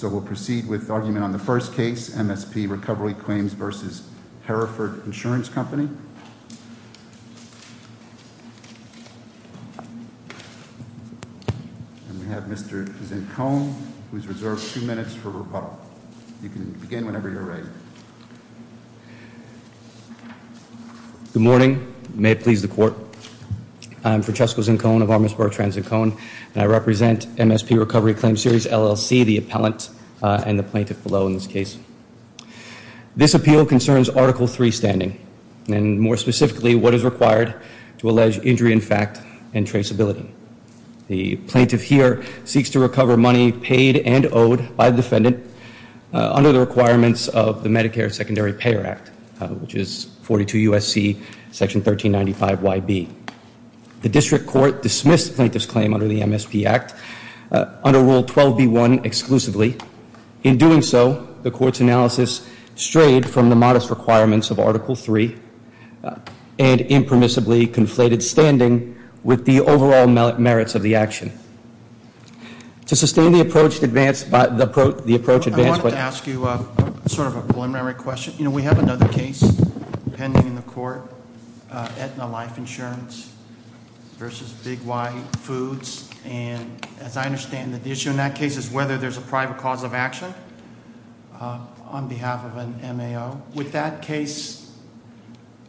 So we'll proceed with argument on the first case, MSP Recovery Claims v. Hereford Insurance Company. And we have Mr. Zincone, who's reserved two minutes for rebuttal. You can begin whenever you're ready. Good morning. May it please the Court. I'm Francesco Zincone of Armistice Borough of Trans-Zincone, and I represent MSP Recovery Claims, Series LLC, the appellant and the plaintiff below in this case. This appeal concerns Article III standing, and more specifically, what is required to allege injury in fact and traceability. The plaintiff here seeks to recover money paid and owed by the defendant under the requirements of the Medicare Secondary Payer Act, which is 42 U.S.C. Section 1395YB. The district court dismissed the plaintiff's claim under the MSP Act under Rule 12b1 exclusively. In doing so, the Court's analysis strayed from the modest requirements of Article III and impermissibly conflated standing with the overall merits of the action. To sustain the approach advanced by the approach advanced by the- I wanted to ask you sort of a preliminary question. You know, we have another case pending in the court, Aetna Life Insurance v. Big White Foods. And as I understand it, the issue in that case is whether there's a private cause of action on behalf of an MAO. Would that case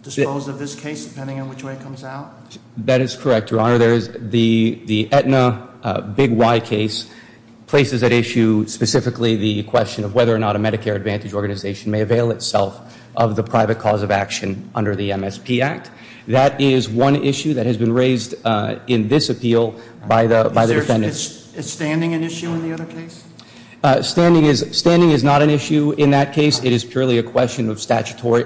dispose of this case depending on which way it comes out? That is correct, Your Honor. There is the Aetna Big White case places at issue specifically the question of whether or not a Medicare Advantage organization may avail itself of the private cause of action under the MSP Act. That is one issue that has been raised in this appeal by the defendants. Is standing an issue in the other case? Standing is not an issue in that case. It is purely a question of statutory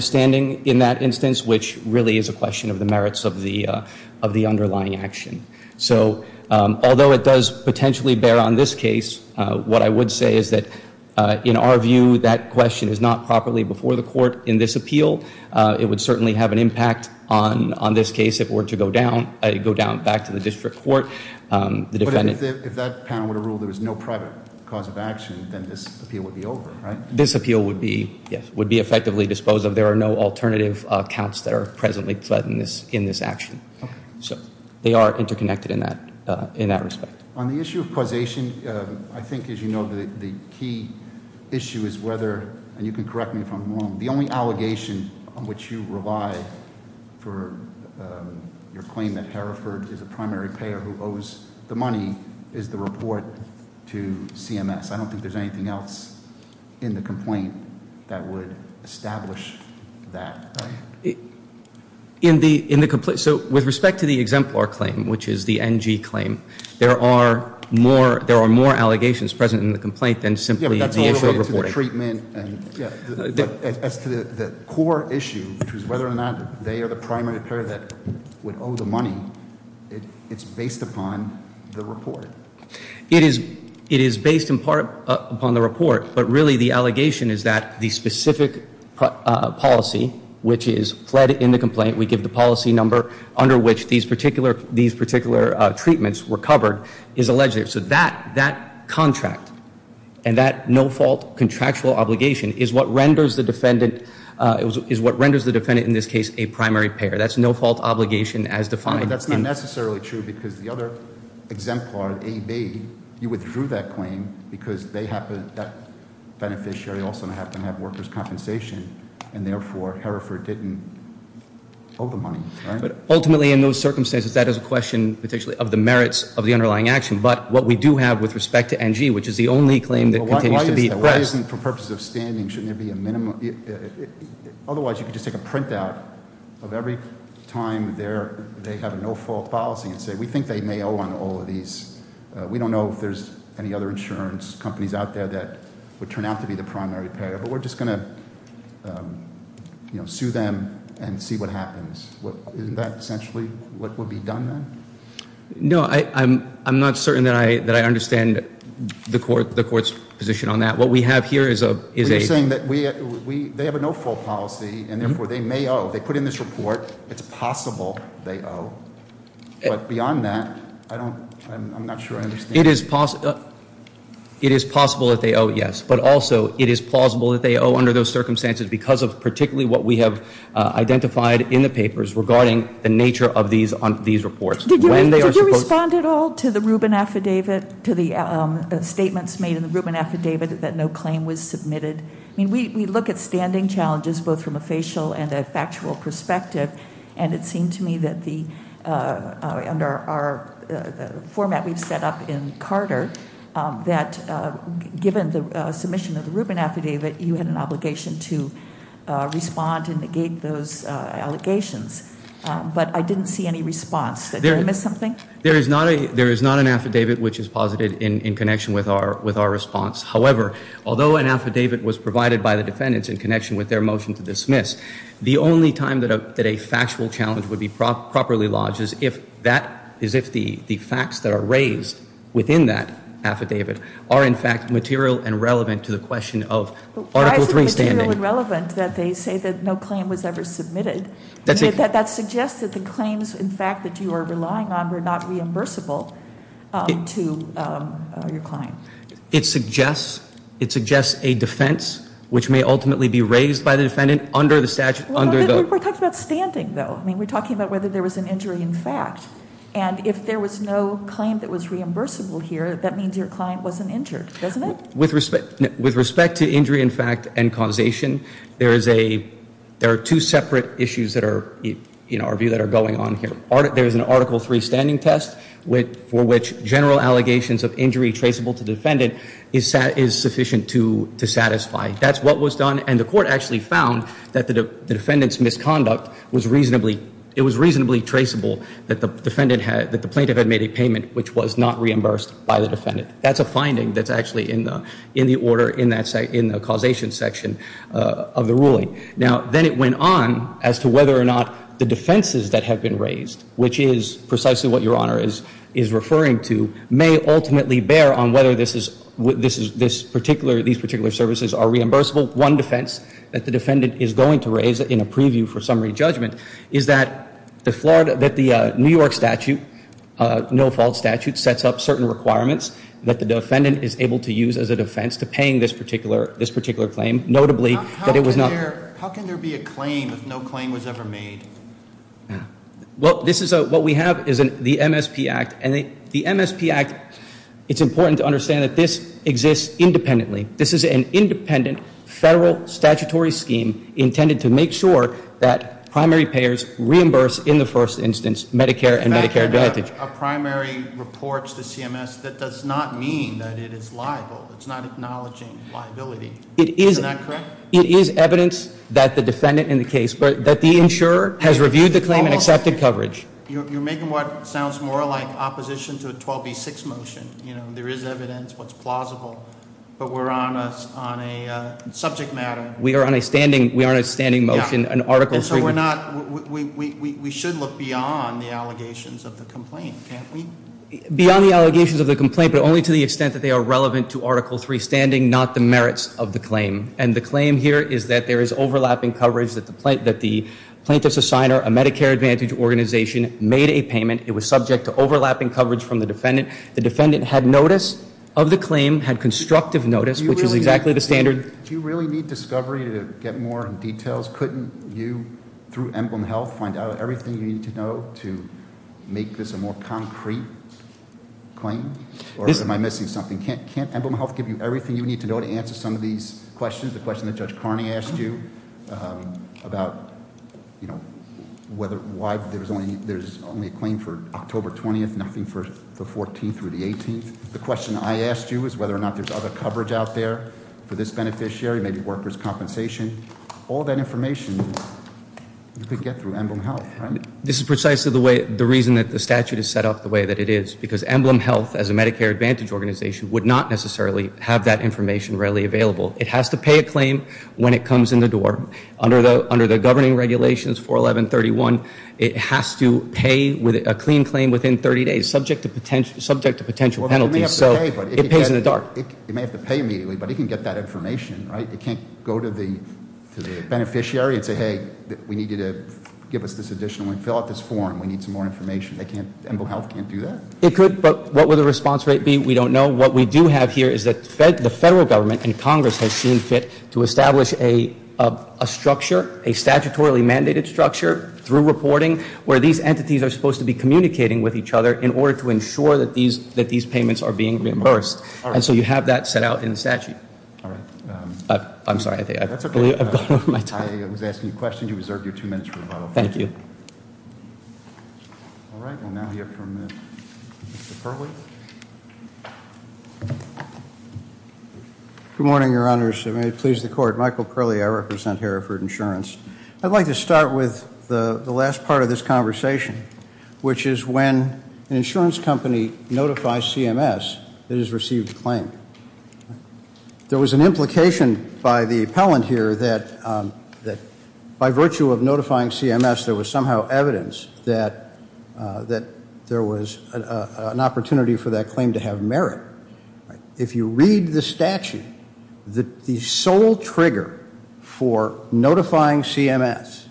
standing in that instance, which really is a question of the merits of the underlying action. So although it does potentially bear on this case, what I would say is that in our view, that question is not properly before the court in this appeal. It would certainly have an impact on this case if it were to go down back to the district court. But if that panel would have ruled there was no private cause of action, then this appeal would be over, right? This appeal would be effectively disposed of. There are no alternative accounts that are presently fled in this action. So they are interconnected in that respect. On the issue of causation, I think, as you know, the key issue is whether, and you can correct me if I'm wrong, the only allegation on which you rely for your claim that Hereford is a primary payer who owes the money is the report to CMS. I don't think there's anything else in the complaint that would establish that, right? So with respect to the exemplar claim, which is the NG claim, there are more allegations present in the complaint than simply the issue of reporting. Yeah, but that's all related to the treatment and, yeah. As to the core issue, which is whether or not they are the primary payer that would owe the money, it's based upon the report. It is based in part upon the report. But really, the allegation is that the specific policy, which is fled in the complaint, we give the policy number under which these particular treatments were covered, is alleged. So that contract and that no-fault contractual obligation is what renders the defendant in this case a primary payer. That's no-fault obligation as defined. No, but that's not necessarily true because the other exemplar, AB, you withdrew that claim because that beneficiary also happened to have workers' compensation, and therefore Hereford didn't owe the money, right? But ultimately, in those circumstances, that is a question potentially of the merits of the underlying action. But what we do have with respect to NG, which is the only claim that continues to be at rest- And say, we think they may owe on all of these. We don't know if there's any other insurance companies out there that would turn out to be the primary payer. But we're just going to sue them and see what happens. Isn't that essentially what would be done then? No, I'm not certain that I understand the court's position on that. What we have here is a- You're saying that they have a no-fault policy, and therefore they may owe. They put in this report, it's possible they owe. But beyond that, I'm not sure I understand. It is possible that they owe, yes. But also, it is plausible that they owe under those circumstances because of particularly what we have identified in the papers regarding the nature of these reports. Did you respond at all to the Rubin Affidavit, to the statements made in the Rubin Affidavit that no claim was submitted? I mean, we look at standing challenges both from a facial and a factual perspective. And it seemed to me that under our format we've set up in Carter, that given the submission of the Rubin Affidavit, you had an obligation to respond to negate those allegations. But I didn't see any response. Did I miss something? There is not an affidavit which is posited in connection with our response. However, although an affidavit was provided by the defendants in connection with their motion to dismiss, the only time that a factual challenge would be properly lodged is if the facts that are raised within that affidavit are in fact material and relevant to the question of Article III standing. Why is it material and relevant that they say that no claim was ever submitted? That suggests that the claims, in fact, that you are relying on were not reimbursable to your client. It suggests a defense which may ultimately be raised by the defendant under the statute. We're talking about standing, though. I mean, we're talking about whether there was an injury in fact. And if there was no claim that was reimbursable here, that means your client wasn't injured, doesn't it? With respect to injury in fact and causation, there are two separate issues in our view that are going on here. There is an Article III standing test for which general allegations of injury traceable to defendant is sufficient to satisfy. That's what was done, and the court actually found that the defendant's misconduct was reasonably traceable that the plaintiff had made a payment which was not reimbursed by the defendant. That's a finding that's actually in the order in the causation section of the ruling. Now, then it went on as to whether or not the defenses that have been raised, which is precisely what Your Honor is referring to, may ultimately bear on whether these particular services are reimbursable. One defense that the defendant is going to raise in a preview for summary judgment is that the New York statute, no-fault statute, sets up certain requirements that the defendant is able to use as a defense to paying this particular claim. How can there be a claim if no claim was ever made? What we have is the MSP Act, and the MSP Act, it's important to understand that this exists independently. This is an independent federal statutory scheme intended to make sure that primary payers reimburse, in the first instance, Medicare and Medicare Advantage. A primary reports to CMS, that does not mean that it is liable. It's not acknowledging liability. Is that correct? It is evidence that the defendant in the case, but that the insurer has reviewed the claim and accepted coverage. You're making what sounds more like opposition to a 12B6 motion. There is evidence, what's plausible, but we're on a subject matter. We are on a standing motion, an article. And so we're not, we should look beyond the allegations of the complaint, can't we? Beyond the allegations of the complaint, but only to the extent that they are relevant to Article III standing, not the merits of the claim. And the claim here is that there is overlapping coverage that the plaintiff's assigner, a Medicare Advantage organization, made a payment. It was subject to overlapping coverage from the defendant. The defendant had notice of the claim, had constructive notice, which is exactly the standard. Do you really need discovery to get more details? Couldn't you, through Emblem Health, find out everything you need to know to make this a more concrete claim? Or am I missing something? Can't Emblem Health give you everything you need to know to answer some of these questions? The question that Judge Carney asked you about why there's only a claim for October 20th, nothing for the 14th or the 18th. The question I asked you is whether or not there's other coverage out there for this beneficiary, maybe workers' compensation. All that information you could get through Emblem Health, right? This is precisely the reason that the statute is set up the way that it is. Because Emblem Health, as a Medicare Advantage organization, would not necessarily have that information readily available. It has to pay a claim when it comes in the door. Under the governing regulations, 41131, it has to pay a clean claim within 30 days, subject to potential penalties. So it pays in the dark. It may have to pay immediately, but it can get that information, right? It can't go to the beneficiary and say, hey, we need you to give us this additional and fill out this form. We need some more information. They can't, Emblem Health can't do that. It could, but what would the response rate be? We don't know. What we do have here is that the federal government and Congress has seen fit to establish a structure, a statutorily mandated structure through reporting where these entities are supposed to be communicating with each other in order to ensure that these payments are being reimbursed. And so you have that set out in the statute. All right. I'm sorry. I think I've gone over my time. I was asking a question. You reserve your two minutes for the follow-up. Thank you. All right. We'll now hear from Mr. Curley. Good morning, Your Honors. May it please the Court. Michael Curley. I represent Hereford Insurance. I'd like to start with the last part of this conversation, which is when an insurance company notifies CMS it has received a claim. There was an implication by the appellant here that by virtue of notifying CMS, there was somehow evidence that there was an opportunity for that claim to have merit. If you read the statute, the sole trigger for notifying CMS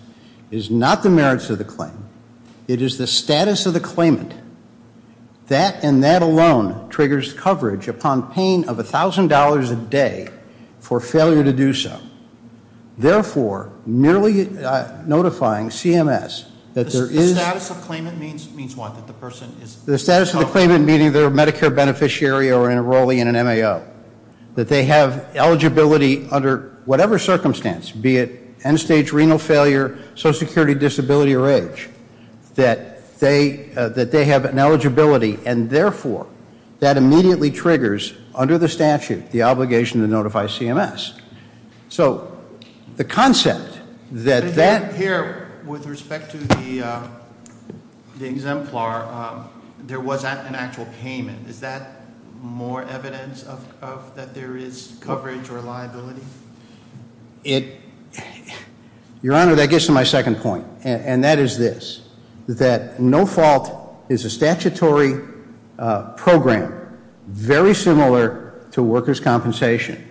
is not the merits of the claim. It is the status of the claimant. That and that alone triggers coverage upon pain of $1,000 a day for failure to do so. Therefore, merely notifying CMS that there is- The status of claimant means what? The status of the claimant meaning they're a Medicare beneficiary or enrolling in an MAO. That they have eligibility under whatever circumstance, be it end stage renal failure, social security disability or age, that they have an eligibility. And therefore, that immediately triggers, under the statute, the obligation to notify CMS. So the concept that that- There was an actual payment, is that more evidence that there is coverage or liability? Your Honor, that gets to my second point, and that is this. That no fault is a statutory program very similar to workers' compensation.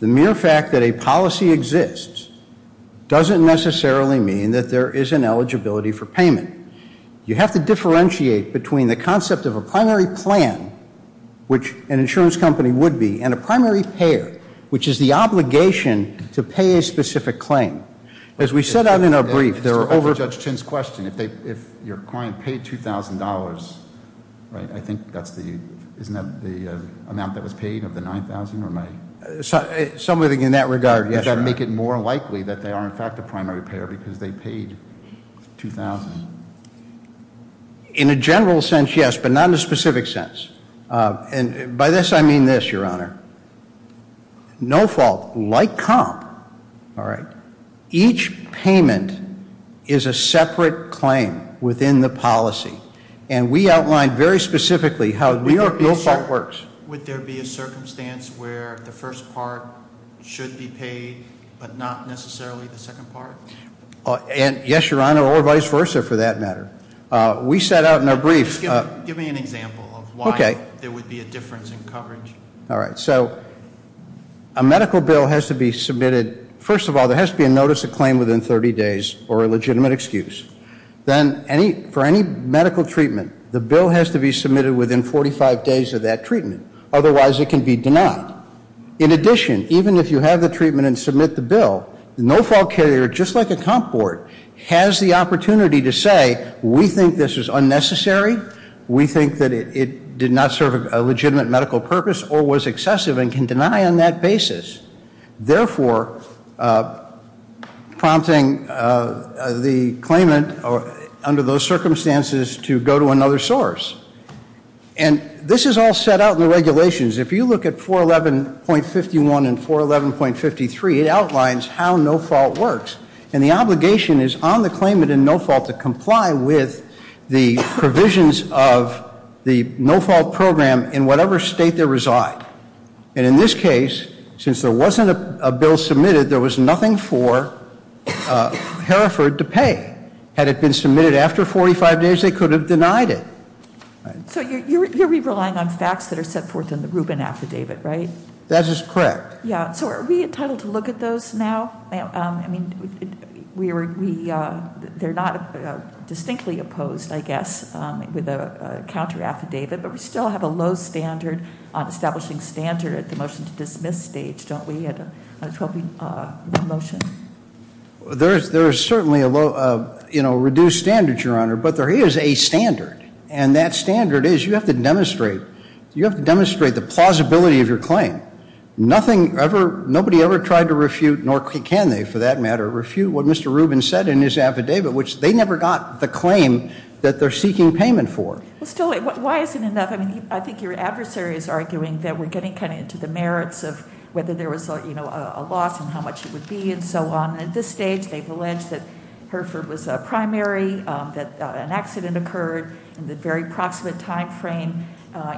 The mere fact that a policy exists doesn't necessarily mean that there is an eligibility for payment. You have to differentiate between the concept of a primary plan, which an insurance company would be, and a primary payer, which is the obligation to pay a specific claim. As we set out in our brief, there are over- Judge Chin's question, if your client paid $2,000, right, I think that's the- Isn't that the amount that was paid of the 9,000 or my- Something in that regard, yes, Your Honor. Does that make it more likely that they are in fact a primary payer because they paid $2,000? In a general sense, yes, but not in a specific sense. And by this, I mean this, Your Honor. No fault, like comp, each payment is a separate claim within the policy. And we outlined very specifically how no fault works. Would there be a circumstance where the first part should be paid, but not necessarily the second part? Yes, Your Honor, or vice versa for that matter. We set out in our brief- Give me an example of why there would be a difference in coverage. All right, so a medical bill has to be submitted- First of all, there has to be a notice of claim within 30 days or a legitimate excuse. Then for any medical treatment, the bill has to be submitted within 45 days of that treatment. Otherwise, it can be denied. In addition, even if you have the treatment and submit the bill, the no fault carrier, just like a comp board, has the opportunity to say, we think this is unnecessary, we think that it did not serve a legitimate medical purpose, or was excessive and can deny on that basis. Therefore, prompting the claimant under those circumstances to go to another source. And this is all set out in the regulations. If you look at 411.51 and 411.53, it outlines how no fault works. And the obligation is on the claimant in no fault to comply with the provisions of the no fault program in whatever state they reside. And in this case, since there wasn't a bill submitted, there was nothing for Hereford to pay. Had it been submitted after 45 days, they could have denied it. So you're relying on facts that are set forth in the Rubin Affidavit, right? That is correct. Yeah, so are we entitled to look at those now? I mean, they're not distinctly opposed, I guess, with a counter affidavit, but we still have a low standard on establishing standard at the motion to dismiss stage, don't we, at a 12-week motion? There is certainly a reduced standard, Your Honor, but there is a standard. And that standard is you have to demonstrate the plausibility of your claim. Nobody ever tried to refute, nor can they for that matter, refute what Mr. Rubin said in his affidavit, which they never got the claim that they're seeking payment for. Still, why is it enough? I think your adversary is arguing that we're getting kind of into the merits of whether there was a loss and how much it would be and so on. At this stage, they've alleged that Hereford was a primary, that an accident occurred, and that very proximate time frame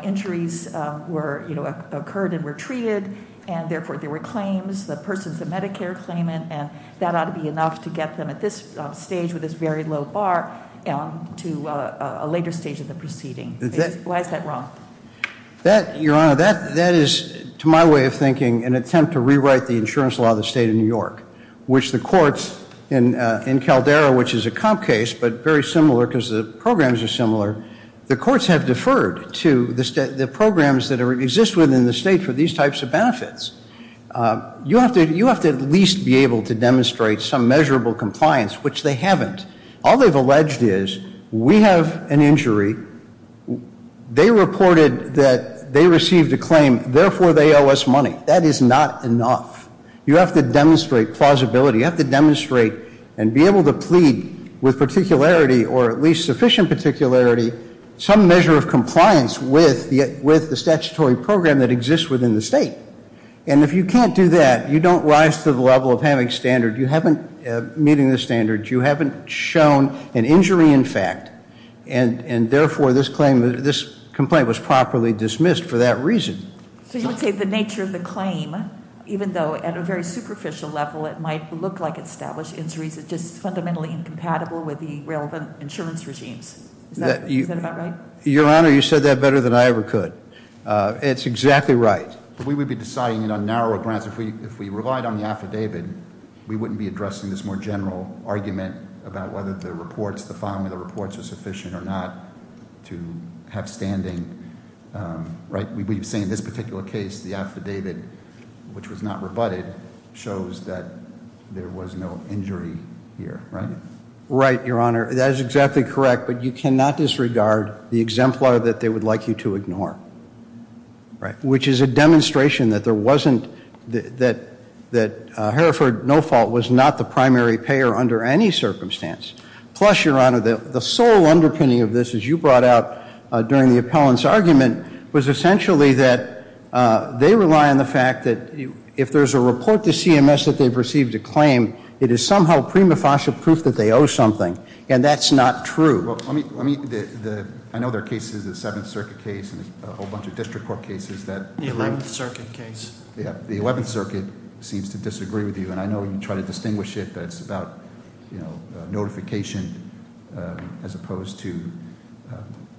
injuries occurred and were treated, and therefore there were claims, the persons of Medicare claimant, and that ought to be enough to get them at this stage with this very low bar to a later stage of the proceeding. Why is that wrong? Your Honor, that is, to my way of thinking, an attempt to rewrite the insurance law of the state of New York, which the courts in Caldera, which is a comp case but very similar because the programs are similar, the courts have deferred to the programs that exist within the state for these types of benefits. You have to at least be able to demonstrate some measurable compliance, which they haven't. All they've alleged is we have an injury, they reported that they received a claim, therefore they owe us money. That is not enough. You have to demonstrate plausibility. You have to demonstrate and be able to plead with particularity or at least sufficient particularity some measure of compliance with the statutory program that exists within the state. And if you can't do that, you don't rise to the level of having standards. You haven't meeting the standards. You haven't shown an injury in fact, and therefore this complaint was properly dismissed for that reason. So you would say the nature of the claim, even though at a very superficial level it might look like established injuries, is just fundamentally incompatible with the relevant insurance regimes. Is that about right? Your Honor, you said that better than I ever could. It's exactly right. But we would be deciding on narrower grants. If we relied on the affidavit, we wouldn't be addressing this more general argument about whether the reports, the filing of the reports was sufficient or not to have standing, right? We've seen in this particular case the affidavit, which was not rebutted, shows that there was no injury here, right? Right, Your Honor. That is exactly correct, but you cannot disregard the exemplar that they would like you to ignore. Right. Which is a demonstration that there wasn't, that Hereford, no fault, was not the primary payer under any circumstance. Plus, Your Honor, the sole underpinning of this, as you brought out during the appellant's argument, was essentially that they rely on the fact that if there's a report to CMS that they've received a claim, it is somehow prima facie proof that they owe something, and that's not true. Well, I mean, I know there are cases, the Seventh Circuit case and a whole bunch of district court cases that- The Eleventh Circuit case. Yeah, the Eleventh Circuit seems to disagree with you, and I know you try to distinguish it, but it's about notification as opposed to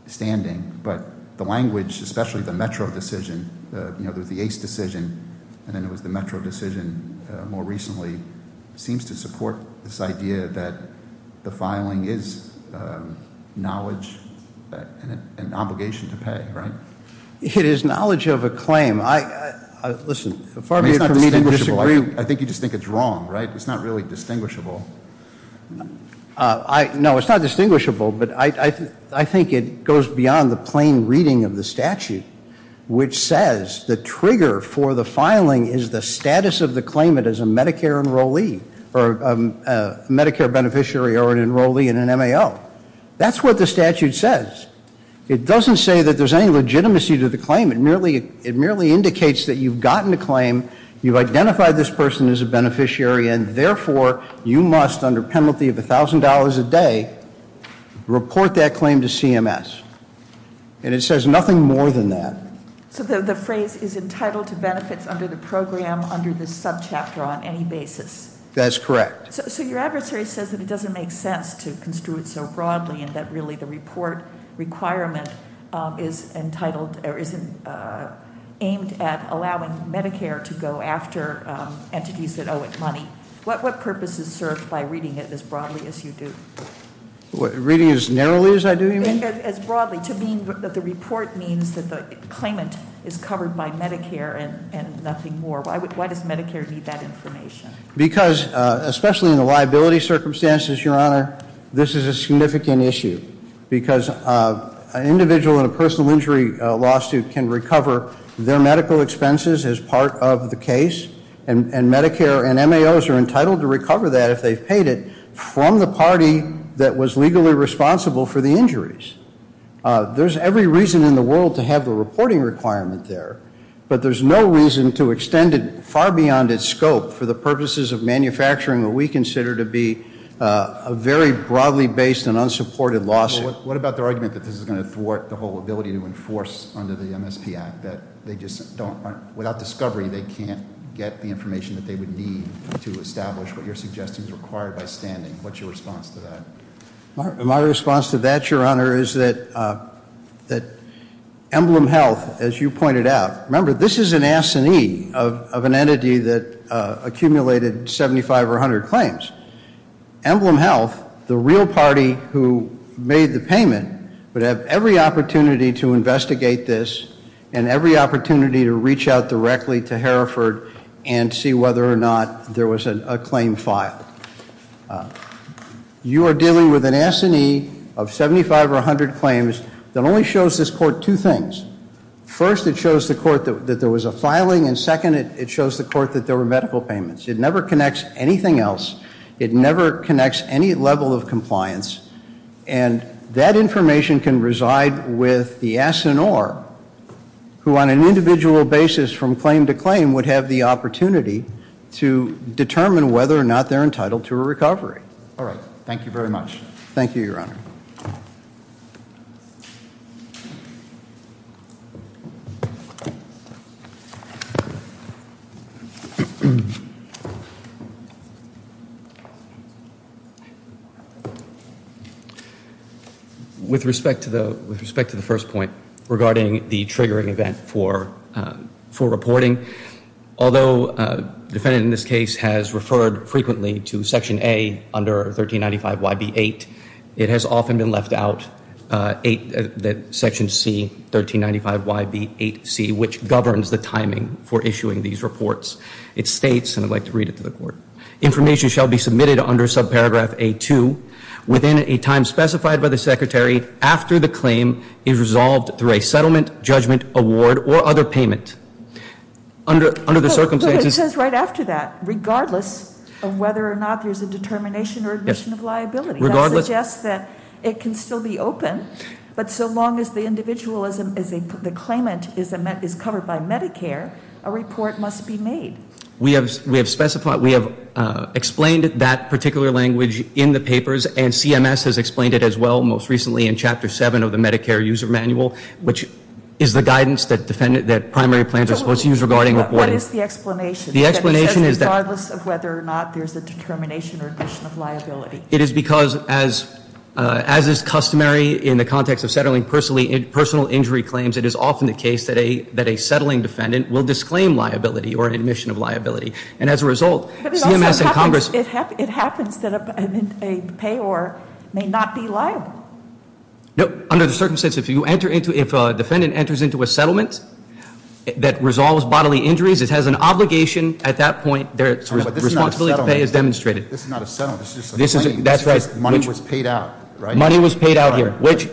standing, but the language, especially the Metro decision, the ACE decision, and then it was the Metro decision more recently, seems to support this idea that the filing is knowledge and an obligation to pay, right? It is knowledge of a claim. Listen, for me it's not distinguishable. I think you just think it's wrong, right? It's not really distinguishable. No, it's not distinguishable, but I think it goes beyond the plain reading of the statute, which says the trigger for the filing is the status of the claimant as a Medicare beneficiary or an enrollee in an MAO. That's what the statute says. It doesn't say that there's any legitimacy to the claim. It merely indicates that you've gotten a claim, you've identified this person as a beneficiary, and therefore you must, under penalty of $1,000 a day, report that claim to CMS. And it says nothing more than that. So the phrase is entitled to benefits under the program under this subchapter on any basis? That's correct. So your adversary says that it doesn't make sense to construe it so broadly, and that really the report requirement is entitled or is aimed at allowing Medicare to go after entities that owe it money. What purpose is served by reading it as broadly as you do? Reading it as narrowly as I do, you mean? As broadly, to mean that the report means that the claimant is covered by Medicare and nothing more. Why does Medicare need that information? Because, especially in the liability circumstances, Your Honor, this is a significant issue, because an individual in a personal injury lawsuit can recover their medical expenses as part of the case, and Medicare and MAOs are entitled to recover that if they've paid it from the party that was legally responsible for the injuries. There's every reason in the world to have the reporting requirement there, but there's no reason to extend it far beyond its scope for the purposes of manufacturing what we consider to be a very broadly based and unsupported lawsuit. What about the argument that this is going to thwart the whole ability to enforce under the MSP Act, that without discovery they can't get the information that they would need to establish what you're suggesting is required by standing? What's your response to that? My response to that, Your Honor, is that Emblem Health, as you pointed out, remember this is an assinee of an entity that accumulated 75 or 100 claims. Emblem Health, the real party who made the payment, would have every opportunity to investigate this and every opportunity to reach out directly to Hereford and see whether or not there was a claim filed. You are dealing with an assinee of 75 or 100 claims that only shows this court two things. First, it shows the court that there was a filing, and second, it shows the court that there were medical payments. It never connects anything else. It never connects any level of compliance, and that information can reside with the assinee who on an individual basis from claim to claim would have the opportunity to determine whether or not they're entitled to a recovery. All right. Thank you very much. Thank you. With respect to the first point regarding the triggering event for reporting, although the defendant in this case has referred frequently to Section A under 1395YB8, it has often been left out, Section C, 1395YB8C, which governs the timing for issuing these reports. It states, and I'd like to read it to the court, information shall be submitted under subparagraph A-2 within a time specified by the secretary after the claim is resolved through a settlement, judgment, award, or other payment. Under the circumstances. But it says right after that, regardless of whether or not there's a determination or admission of liability. That suggests that it can still be open, but so long as the claimant is covered by Medicare, a report must be made. We have explained that particular language in the papers, and CMS has explained it as well most recently in Chapter 7 of the Medicare User Manual, which is the guidance that primary plans are supposed to use regarding reporting. What is the explanation? The explanation is that regardless of whether or not there's a determination or admission of liability. It is because as is customary in the context of settling personal injury claims, it is often the case that a settling defendant will disclaim liability or admission of liability. And as a result, CMS and Congress. But it also happens that a payor may not be liable. No. Under the circumstances, if a defendant enters into a settlement that resolves bodily injuries, it has an obligation at that point. The responsibility to pay is demonstrated. This is not a settlement. This is just a claim. Money was paid out. Money was paid out here, which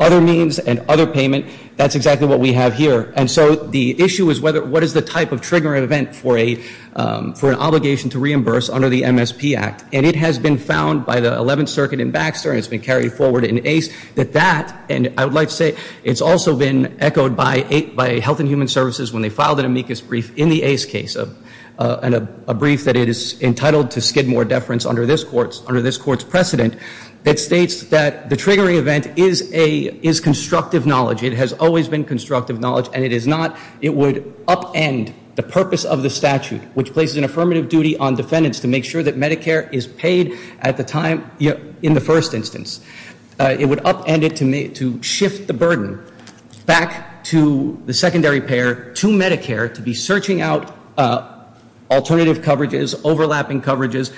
other means and other payment, that's exactly what we have here. And so the issue is what is the type of trigger event for an obligation to reimburse under the MSP Act? And it has been found by the 11th Circuit in Baxter, and it's been carried forward in ACE, that that, and I would like to say it's also been echoed by Health and Human Services when they filed an amicus brief in the ACE case, a brief that it is entitled to skid more deference under this court's precedent. It states that the triggering event is constructive knowledge. It has always been constructive knowledge, and it is not. It would upend the purpose of the statute, which places an affirmative duty on defendants to make sure that Medicare is paid at the time in the first instance. It would upend it to shift the burden back to the secondary payer to Medicare to be searching out alternative coverages, overlapping coverages,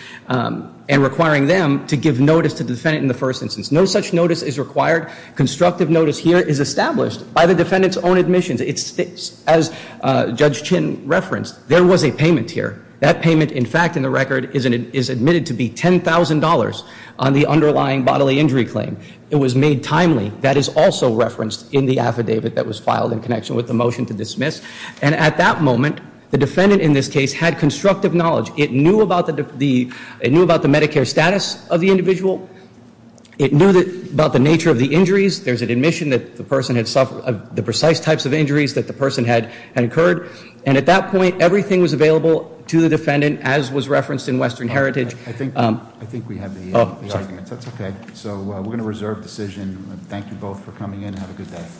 and requiring them to give notice to the defendant in the first instance. No such notice is required. Constructive notice here is established by the defendant's own admissions. As Judge Chin referenced, there was a payment here. That payment, in fact, in the record is admitted to be $10,000 on the underlying bodily injury claim. It was made timely. That is also referenced in the affidavit that was filed in connection with the motion to dismiss. And at that moment, the defendant in this case had constructive knowledge. It knew about the Medicare status of the individual. It knew about the nature of the injuries. There's an admission that the person had suffered the precise types of injuries that the person had incurred. And at that point, everything was available to the defendant, as was referenced in Western Heritage. I think we have the arguments. That's okay. So we're going to reserve decision. Thank you both for coming in. Have a good day.